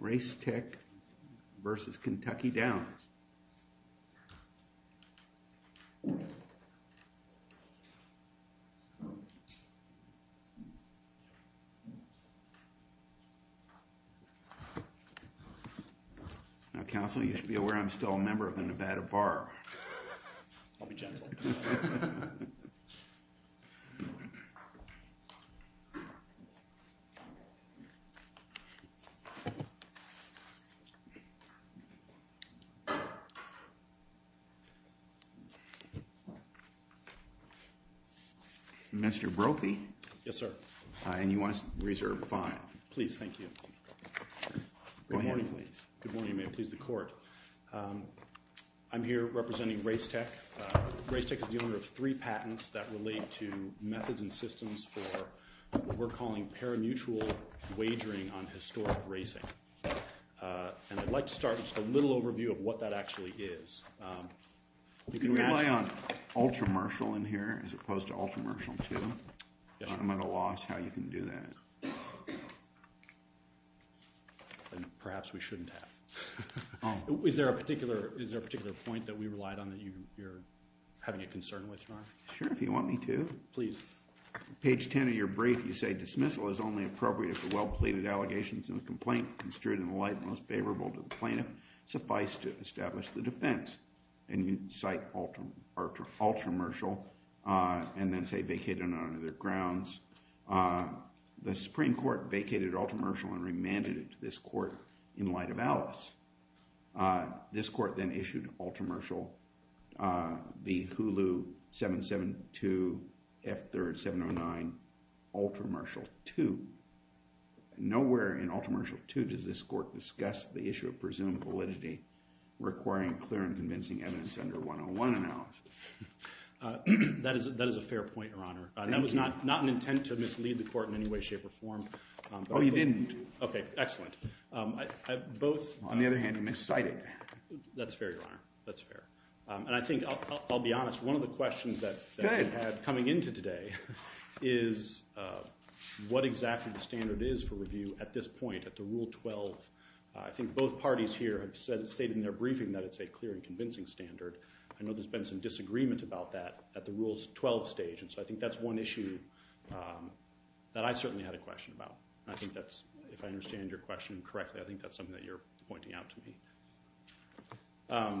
Racetech, LLC v. Kentucky Downs, LLC Now, Counsel, you should be aware I'm still a member of the Nevada Bar. I'll be gentle. Mr. Brophy? Yes, sir. And you are reserved five. Please, thank you. Go ahead, please. Good morning, and may it please the court. I'm here representing Racetech. Racetech is the owner of three patents that relate to methods and systems for what we're calling parimutuel wagering on historic racing. And I'd like to start with just a little overview of what that actually is. You can rely on ultramershal in here as opposed to ultramershal two. Parimutuel law is how you can do that. Perhaps we shouldn't have. Is there a particular point that we relied on that you're having a concern with, Your Honor? Sure, if you want me to. Please. Page 10 of your brief, you say dismissal is only appropriate for well-pleaded allegations in a complaint construed in the light most favorable to the plaintiff. Suffice to establish the defense. And you cite ultramershal and then say vacated on other grounds. The Supreme Court vacated ultramershal and remanded it to this court in light of Alice. This court then issued ultramershal, the Hulu 772F3709, ultramershal two. Nowhere in ultramershal two does this court discuss the issue of presumed validity requiring clear and convincing evidence under 101 analysis. That is a fair point, Your Honor. Thank you. That was not an intent to mislead the court in any way, shape, or form. Oh, you didn't. Okay, excellent. On the other hand, you miscited. That's fair, Your Honor. That's fair. And I think, I'll be honest, one of the questions that we had coming into today is what exactly the standard is for review at this point, at the Rule 12. I think both parties here have stated in their briefing that it's a clear and convincing standard. I know there's been some disagreement about that at the Rule 12 stage, and so I think that's one issue that I certainly had a question about. And I think that's, if I understand your question correctly, I think that's something that you're pointing out to me.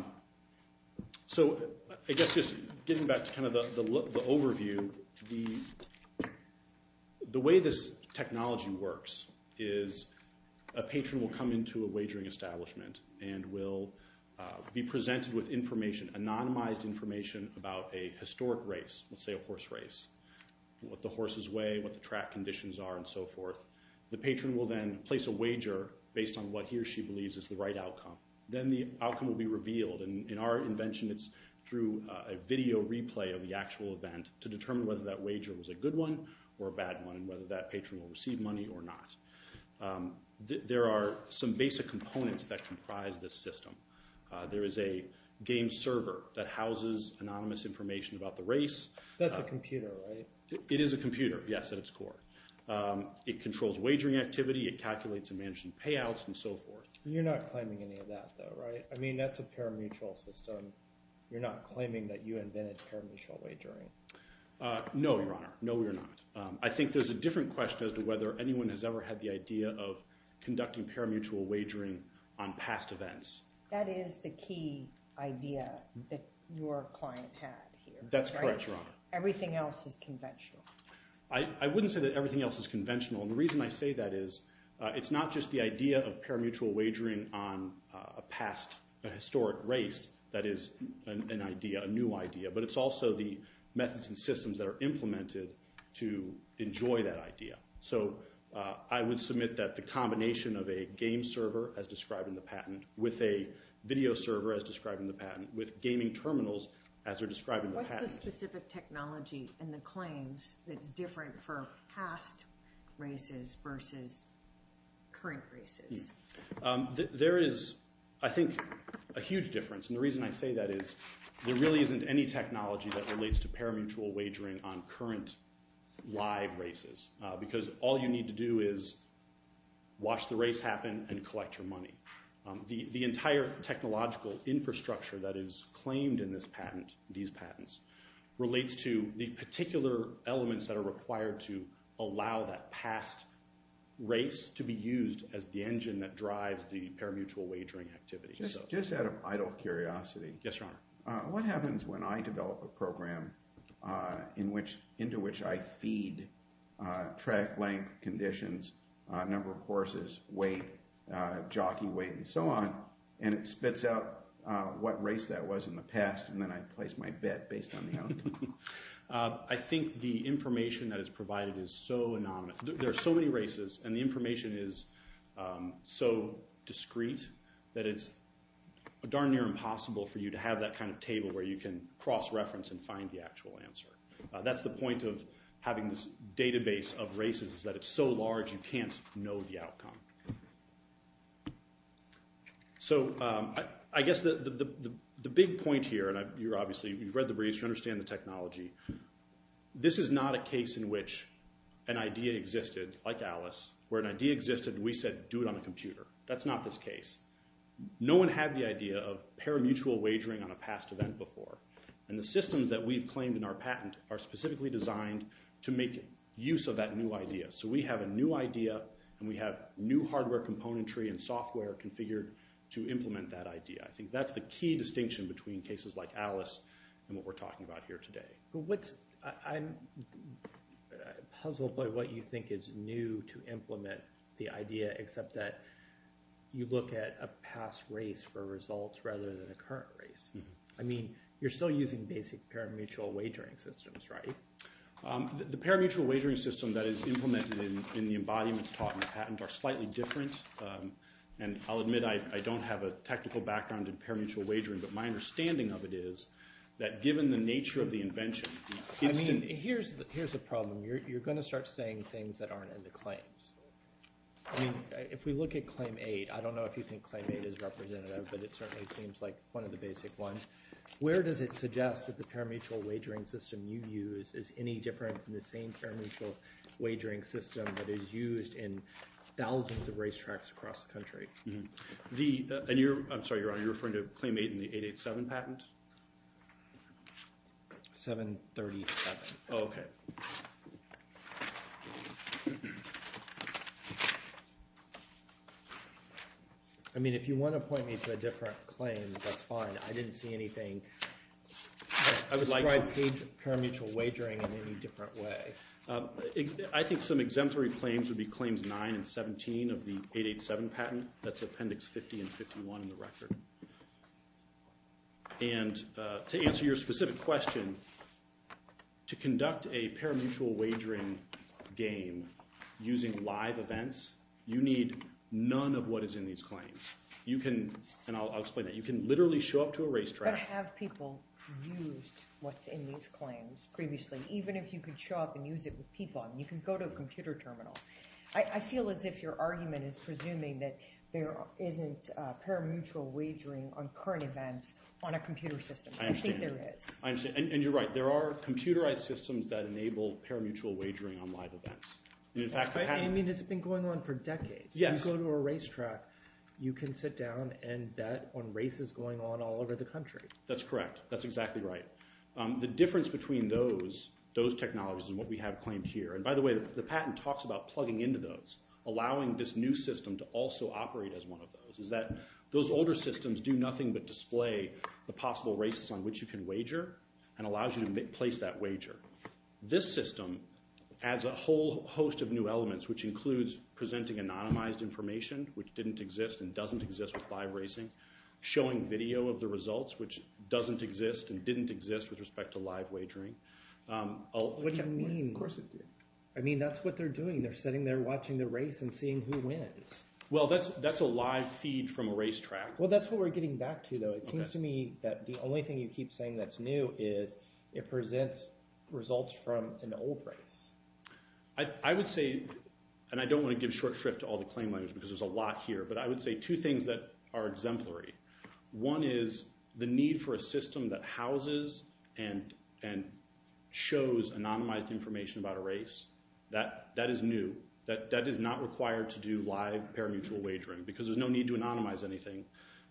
So I guess just getting back to kind of the overview, the way this technology works is a patron will come into a wagering establishment and will be presented with information, anonymized information, about a historic race, let's say a horse race, what the horses weigh, what the track conditions are, and so forth. The patron will then place a wager based on what he or she believes is the right outcome. Then the outcome will be revealed, and in our invention, it's through a video replay of the actual event to determine whether that wager was a good one or a bad one and whether that patron will receive money or not. There are some basic components that comprise this system. There is a game server that houses anonymous information about the race. That's a computer, right? It is a computer, yes, at its core. It controls wagering activity, it calculates and manages payouts, and so forth. You're not claiming any of that, though, right? I mean, that's a parimutuel system. You're not claiming that you invented parimutuel wagering? No, Your Honor. No, we are not. I think there's a different question as to whether anyone has ever had the idea of conducting parimutuel wagering on past events. That is the key idea that your client had here. That's correct, Your Honor. Everything else is conventional. I wouldn't say that everything else is conventional. The reason I say that is it's not just the idea of parimutuel wagering on a past, a historic race that is an idea, a new idea, but it's also the methods and systems that are implemented to enjoy that idea. So I would submit that the combination of a game server, as described in the patent, with a video server, as described in the patent, with gaming terminals, as are described in the patent. What's the specific technology in the claims that's different for past races versus current races? There is, I think, a huge difference, and the reason I say that is there really isn't any technology that relates to parimutuel wagering on current live races because all you need to do is watch the race happen and collect your money. The entire technological infrastructure that is claimed in this patent, these patents, relates to the particular elements that are required to allow that past race to be used as the engine that drives the parimutuel wagering activity. Just out of idle curiosity. Yes, Your Honor. What happens when I develop a program into which I feed track length, conditions, number of horses, weight, jockey weight, and so on, and it spits out what race that was in the past, and then I place my bet based on the outcome? I think the information that is provided is so anonymous. There are so many races, and the information is so discreet that it's darn near impossible for you to have that kind of table where you can cross-reference and find the actual answer. That's the point of having this database of races is that it's so large you can't know the outcome. So I guess the big point here, and you've read the briefs, you understand the technology, this is not a case in which an idea existed, like Alice, where an idea existed and we said do it on a computer. That's not this case. No one had the idea of parimutuel wagering on a past event before, and the systems that we've claimed in our patent are specifically designed to make use of that new idea. So we have a new idea, and we have new hardware componentry and software configured to implement that idea. I think that's the key distinction between cases like Alice and what we're talking about here today. I'm puzzled by what you think is new to implement the idea, except that you look at a past race for results rather than a current race. I mean, you're still using basic parimutuel wagering systems, right? The parimutuel wagering system that is implemented in the embodiments taught in the patent are slightly different, and I'll admit I don't have a technical background in parimutuel wagering, but my understanding of it is that given the nature of the invention, the instance... I mean, here's the problem. You're going to start saying things that aren't in the claims. I mean, if we look at Claim 8, I don't know if you think Claim 8 is representative, but it certainly seems like one of the basic ones. Where does it suggest that the parimutuel wagering system you use is any different from the same parimutuel wagering system that is used in thousands of racetracks across the country? I'm sorry, Your Honor. Are you referring to Claim 8 in the 887 patent? 737. Oh, okay. I mean, if you want to point me to a different claim, that's fine. I didn't see anything that described parimutuel wagering in any different way. I think some exemplary claims would be Claims 9 and 17 of the 887 patent. That's Appendix 50 and 51 in the record. And to answer your specific question, to conduct a parimutuel wagering game using live events, you need none of what is in these claims. And I'll explain that. You can literally show up to a racetrack— But have people used what's in these claims previously? Even if you could show up and use it with people, you can go to a computer terminal. I feel as if your argument is presuming that there isn't parimutuel wagering on current events on a computer system. I understand. I think there is. And you're right. There are computerized systems that enable parimutuel wagering on live events. You mean it's been going on for decades? Yes. If you go to a racetrack, you can sit down and bet on races going on all over the country. That's correct. That's exactly right. The difference between those technologies and what we have claimed here— and by the way, the patent talks about plugging into those, allowing this new system to also operate as one of those— is that those older systems do nothing but display the possible races on which you can wager and allows you to place that wager. This system adds a whole host of new elements, which includes presenting anonymized information, which didn't exist and doesn't exist with live racing, showing video of the results, which doesn't exist and didn't exist with respect to live wagering. What do you mean? Of course it did. I mean, that's what they're doing. They're sitting there watching the race and seeing who wins. Well, that's a live feed from a racetrack. Well, that's what we're getting back to, though. It seems to me that the only thing you keep saying that's new is it presents results from an old race. I would say—and I don't want to give short shrift to all the claim language because there's a lot here— but I would say two things that are exemplary. One is the need for a system that houses and shows anonymized information about a race. That is new. That is not required to do live parimutuel wagering because there's no need to anonymize anything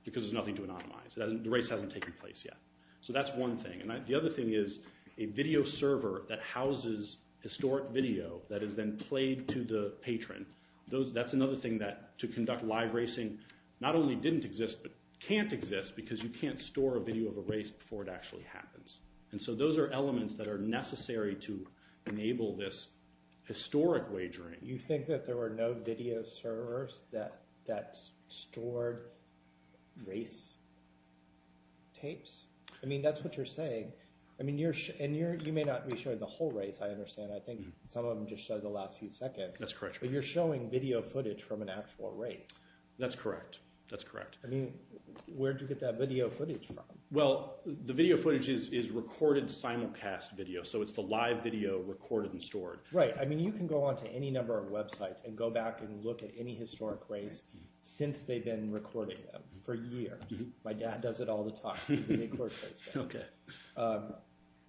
because there's nothing to anonymize. The race hasn't taken place yet. So that's one thing. The other thing is a video server that houses historic video that is then played to the patron. That's another thing that to conduct live racing not only didn't exist but can't exist because you can't store a video of a race before it actually happens. And so those are elements that are necessary to enable this historic wagering. You think that there were no video servers that stored race tapes? I mean, that's what you're saying. And you may not be showing the whole race, I understand. I think some of them just show the last few seconds. That's correct. But you're showing video footage from an actual race. That's correct. That's correct. I mean, where'd you get that video footage from? Well, the video footage is recorded simulcast video, so it's the live video recorded and stored. Right. I mean, you can go onto any number of websites and go back and look at any historic race since they've been recording them for years. My dad does it all the time. Okay.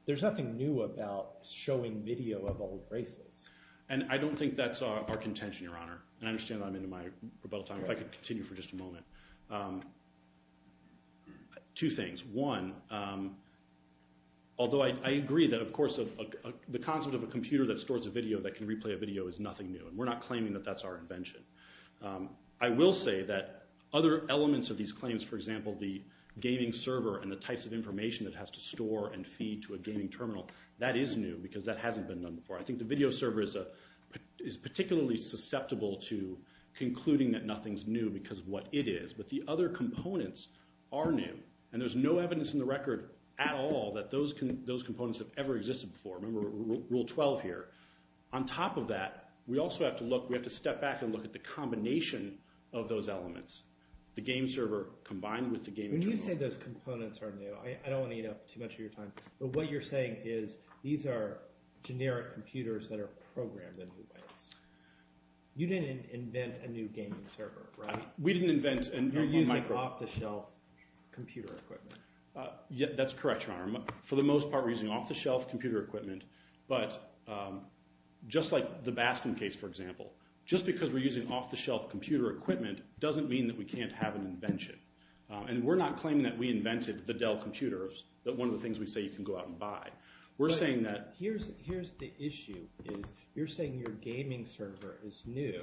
There's nothing new about showing video of old races. And I don't think that's our contention, Your Honor. And I understand that I'm into my rebuttal time. If I could continue for just a moment. Two things. One, although I agree that, of course, the concept of a computer that stores a video that can replay a video is nothing new, and we're not claiming that that's our invention. I will say that other elements of these claims, for example, the gaming server and the types of information it has to store and feed to a gaming terminal, that is new because that hasn't been done before. I think the video server is particularly susceptible to concluding that nothing's new because of what it is. But the other components are new. And there's no evidence in the record at all that those components have ever existed before. Remember Rule 12 here. On top of that, we also have to look. We have to step back and look at the combination of those elements, the game server combined with the gaming terminal. When you say those components are new, I don't want to eat up too much of your time, but what you're saying is these are generic computers that are programmed in new ways. You didn't invent a new gaming server, right? We didn't invent a micro— You're using off-the-shelf computer equipment. That's correct, Your Honor. For the most part, we're using off-the-shelf computer equipment. But just like the Baskin case, for example, just because we're using off-the-shelf computer equipment doesn't mean that we can't have an invention. And we're not claiming that we invented the Dell computers, that one of the things we say you can go out and buy. We're saying that— Here's the issue is you're saying your gaming server is new.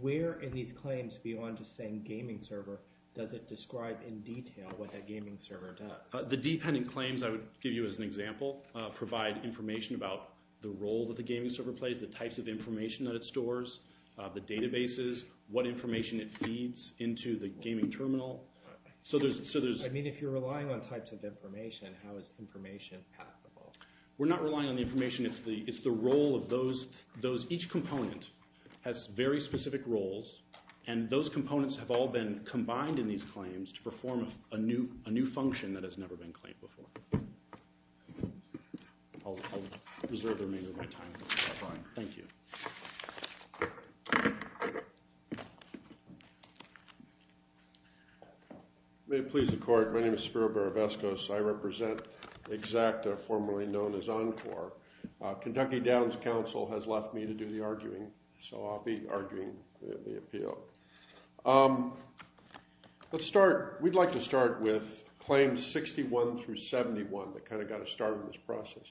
Where in these claims, beyond just saying gaming server, does it describe in detail what that gaming server does? The dependent claims I would give you as an example provide information about the role that the gaming server plays, the types of information that it stores, the databases, what information it feeds into the gaming terminal. So there's— I mean, if you're relying on types of information, how is information passable? We're not relying on the information. It's the role of those— Each component has very specific roles, and those components have all been combined in these claims to perform a new function that has never been claimed before. I'll reserve the remainder of my time. Thank you. May it please the Court, my name is Spiro Barovoskos. I represent Xacta, formerly known as Encore. Kentucky Downs Council has left me to do the arguing, so I'll be arguing the appeal. Let's start—we'd like to start with claims 61 through 71 that kind of got us started in this process.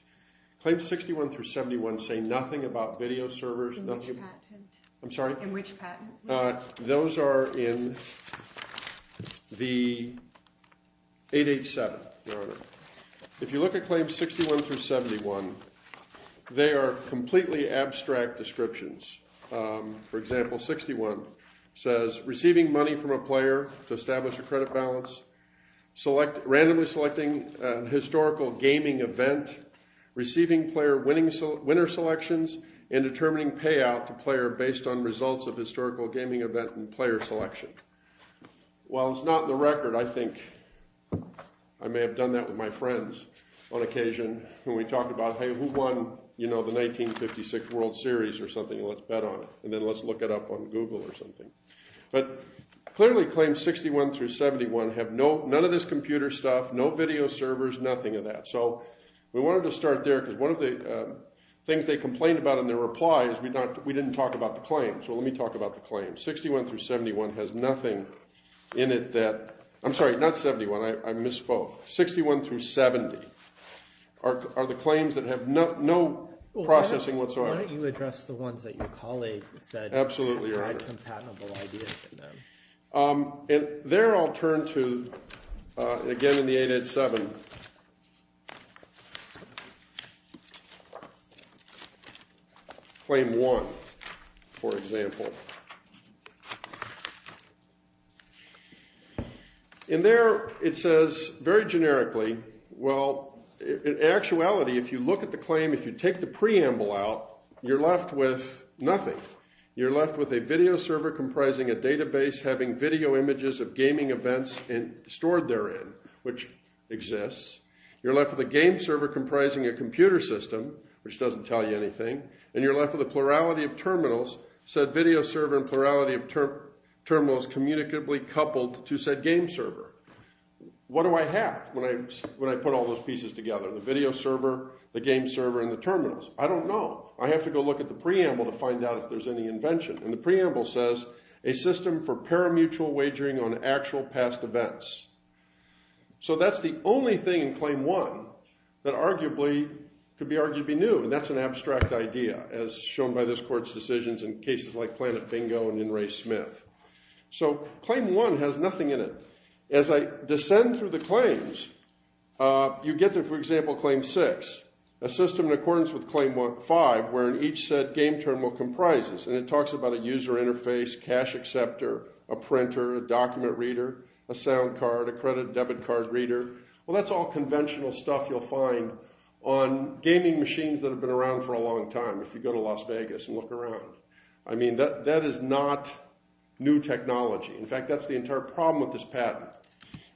Claims 61 through 71 say nothing about video servers. In which patent? I'm sorry? In which patent? Those are in the 887, Your Honor. If you look at claims 61 through 71, they are completely abstract descriptions. For example, 61 says receiving money from a player to establish a credit balance, randomly selecting a historical gaming event, receiving player winner selections, and determining payout to player based on results of historical gaming event and player selection. While it's not in the record, I think I may have done that with my friends on occasion when we talked about, hey, who won, you know, the 1956 World Series or something, and let's bet on it, and then let's look it up on Google or something. But clearly claims 61 through 71 have none of this computer stuff, no video servers, nothing of that. So we wanted to start there, because one of the things they complained about in their reply is we didn't talk about the claim. So let me talk about the claim. 61 through 71 has nothing in it that, I'm sorry, not 71. I misspoke. 61 through 70 are the claims that have no processing whatsoever. Why don't you address the ones that your colleague said and provide some patentable ideas for them? Absolutely, Your Honor. And there I'll turn to, again, in the 887. Claim 1, for example. In there it says very generically, well, in actuality, if you look at the claim, if you take the preamble out, you're left with nothing. You're left with a video server comprising a database having video images of gaming events stored therein, which exists. You're left with a game server comprising a computer system, which doesn't tell you anything. And you're left with a plurality of terminals, said video server and plurality of terminals communicatively coupled to said game server. What do I have when I put all those pieces together, the video server, the game server, and the terminals? I don't know. I have to go look at the preamble to find out if there's any invention. And the preamble says, a system for paramutual wagering on actual past events. So that's the only thing in Claim 1 that arguably could be argued to be new. And that's an abstract idea, as shown by this court's decisions in cases like Planet Bingo and in Ray Smith. So Claim 1 has nothing in it. As I descend through the claims, you get to, for example, Claim 6, a system in accordance with Claim 5, wherein each said game terminal comprises, and it talks about a user interface, cash acceptor, a printer, a document reader, a sound card, a credit and debit card reader. Well, that's all conventional stuff you'll find on gaming machines that have been around for a long time, if you go to Las Vegas and look around. I mean, that is not new technology. In fact, that's the entire problem with this patent,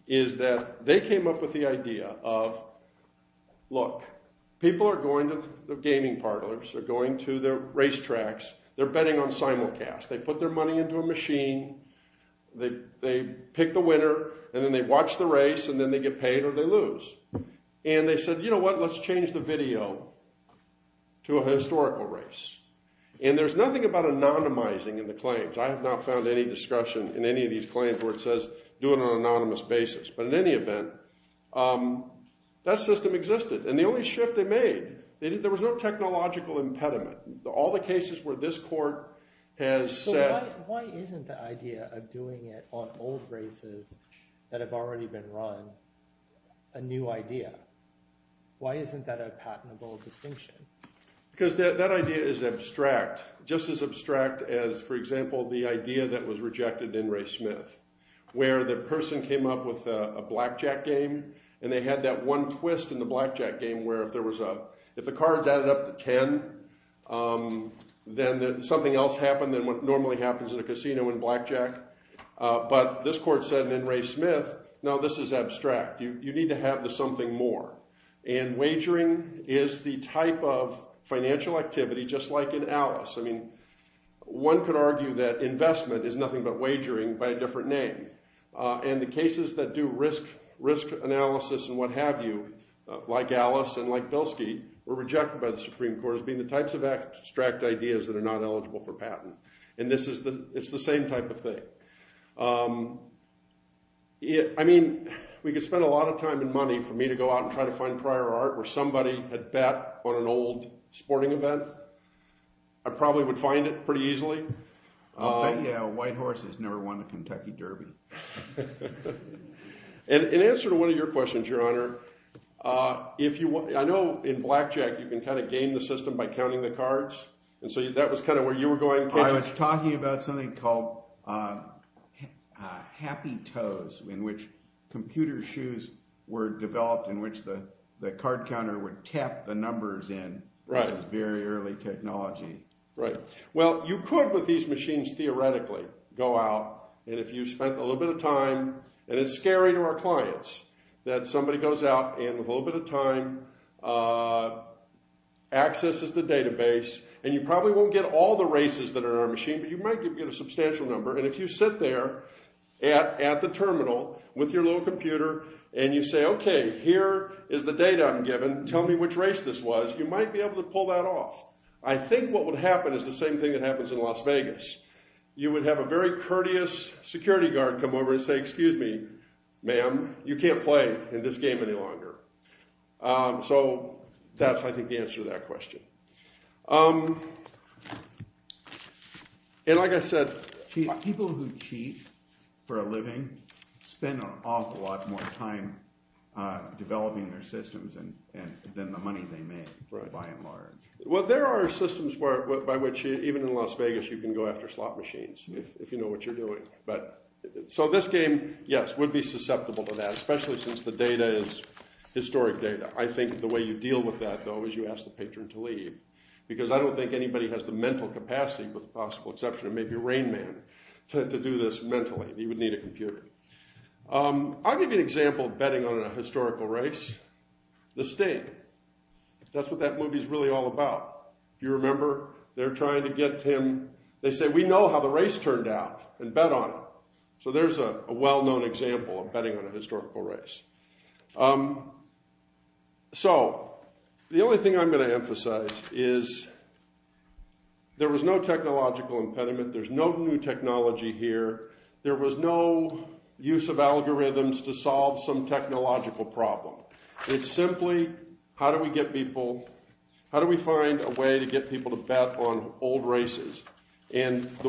is that they came up with the idea of, look, people are going to the gaming parlors, they're going to the racetracks, they're betting on simulcasts, they put their money into a machine, they pick the winner, and then they watch the race, and then they get paid or they lose. And they said, you know what, let's change the video to a historical race. And there's nothing about anonymizing in the claims. I have not found any discretion in any of these claims where it says, do it on an anonymous basis. But in any event, that system existed. And the only shift they made, there was no technological impediment. All the cases where this court has said... So why isn't the idea of doing it on old races that have already been run a new idea? Why isn't that a patentable distinction? Because that idea is abstract, just as abstract as, for example, the idea that was rejected in Ray Smith, where the person came up with a blackjack game, and they had that one twist in the blackjack game where if the cards added up to 10, then something else happened than what normally happens in a casino in blackjack. But this court said in Ray Smith, no, this is abstract. You need to have the something more. And wagering is the type of financial activity, just like in Alice. I mean, one could argue that investment is nothing but wagering by a different name. And the cases that do risk analysis and what have you, like Alice and like Pilsky, were rejected by the Supreme Court as being the types of abstract ideas that are not eligible for patent. And it's the same type of thing. I mean, we could spend a lot of time and money for me to go out and try to find prior art where somebody had bet on an old sporting event. I probably would find it pretty easily. I bet you a white horse has never won a Kentucky Derby. In answer to one of your questions, Your Honor, I know in blackjack you can kind of game the system by counting the cards. And so that was kind of where you were going. I was talking about something called happy toes, in which computer shoes were developed in which the card counter would tap the numbers in. Right. It was a very early technology. Right. Well, you could with these machines theoretically go out. And if you spent a little bit of time, and it's scary to our clients that somebody goes out and with a little bit of time accesses the database, and you probably won't get all the races that are in our machine, but you might get a substantial number. And if you sit there at the terminal with your little computer, and you say, OK, here is the data I'm given. Tell me which race this was. You might be able to pull that off. I think what would happen is the same thing that happens in Las Vegas. You would have a very courteous security guard come over and say, excuse me, ma'am, you can't play in this game any longer. So that's, I think, the answer to that question. And like I said, people who cheat for a living spend an awful lot more time developing their systems than the money they make by and large. Well, there are systems by which even in Las Vegas you can go after slot machines if you know what you're doing. So this game, yes, would be susceptible to that, especially since the data is historic data. I think the way you deal with that, though, is you ask the patron to leave. Because I don't think anybody has the mental capacity, with the possible exception of maybe Rain Man, to do this mentally. He would need a computer. I'll give you an example of betting on a historical race. The State. That's what that movie is really all about. If you remember, they're trying to get him... They say, we know how the race turned out, and bet on it. So there's a well-known example of betting on a historical race. So, the only thing I'm going to emphasize is there was no technological impediment. There's no new technology here. There was no use of algorithms to solve some technological problem. It's simply, how do we get people... The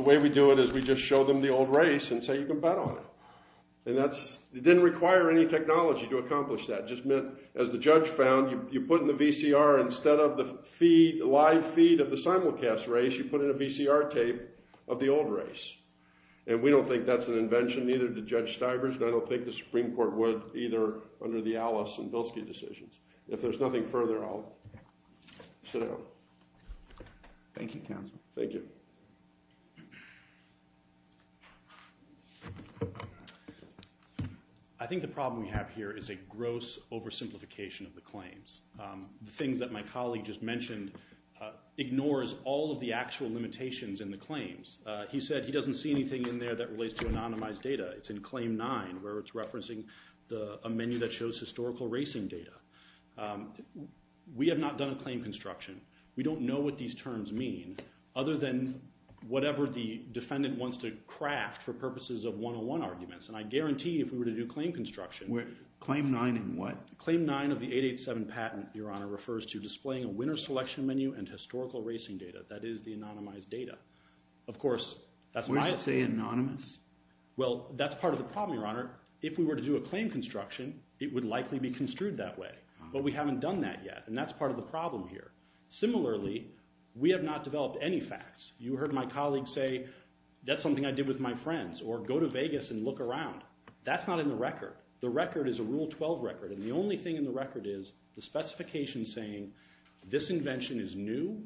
way we do it is we just show them the old race and say, you can bet on it. It didn't require any technology to accomplish that. As the judge found, you put in the VCR, instead of the live feed of the simulcast race, you put in a VCR tape of the old race. And we don't think that's an invention, neither did Judge Stivers, and I don't think the Supreme Court would either, under the Alice and Bilski decisions. If there's nothing further, I'll sit down. Thank you, counsel. Thank you. I think the problem we have here is a gross oversimplification of the claims. The things that my colleague just mentioned ignores all of the actual limitations in the claims. He said he doesn't see anything in there that relates to anonymized data. It's in Claim 9, where it's referencing a menu that shows historical racing data. We have not done a claim construction. We don't know what these terms mean, other than whatever the defendant wants to craft for purposes of one-on-one arguments. And I guarantee if we were to do claim construction... Claim 9 in what? Claim 9 of the 887 patent, Your Honor, refers to displaying a winner's selection menu and historical racing data. That is the anonymized data. Of course, that's my... Where does it say anonymous? Well, that's part of the problem, Your Honor. If we were to do a claim construction, it would likely be construed that way. But we haven't done that yet, and that's part of the problem here. Similarly, we have not developed any facts. You heard my colleague say, that's something I did with my friends, or go to Vegas and look around. That's not in the record. The record is a Rule 12 record, and the only thing in the record is the specification saying this invention is new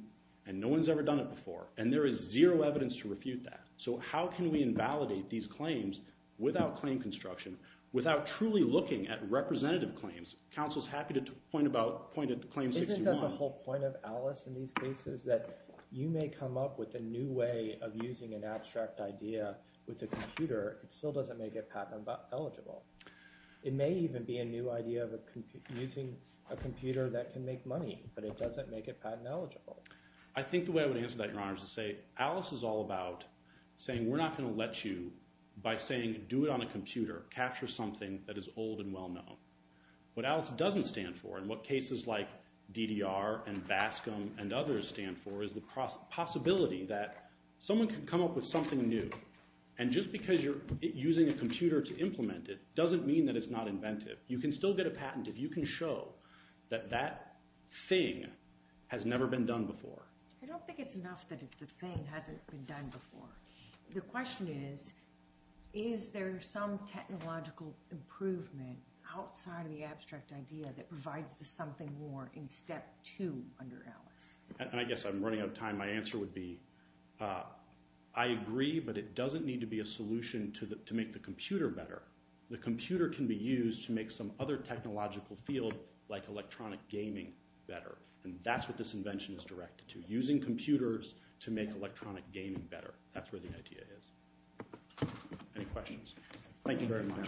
and no one's ever done it before, and there is zero evidence to refute that. So how can we invalidate these claims without claim construction, without truly looking at representative claims? Counsel's happy to point about claim 61. Isn't that the whole point of Alice in these cases, that you may come up with a new way of using an abstract idea with a computer, it still doesn't make it patent-eligible. It may even be a new idea of using a computer that can make money, but it doesn't make it patent-eligible. I think the way I would answer that, Your Honor, is to say Alice is all about saying we're not going to let you, by saying do it on a computer, capture something that is old and well-known. What Alice doesn't stand for, and what cases like DDR and Bascom and others stand for, is the possibility that someone can come up with something new, and just because you're using a computer to implement it doesn't mean that it's not inventive. You can still get a patent if you can show that that thing has never been done before. I don't think it's enough that it's the thing hasn't been done before. The question is, is there some technological improvement outside of the abstract idea that provides the something more in step two under Alice? I guess I'm running out of time. My answer would be I agree, but it doesn't need to be a solution to make the computer better. The computer can be used to make some other technological field like electronic gaming better, and that's what this invention is directed to, using computers to make electronic gaming better. That's where the idea is. Any questions? Thank you very much.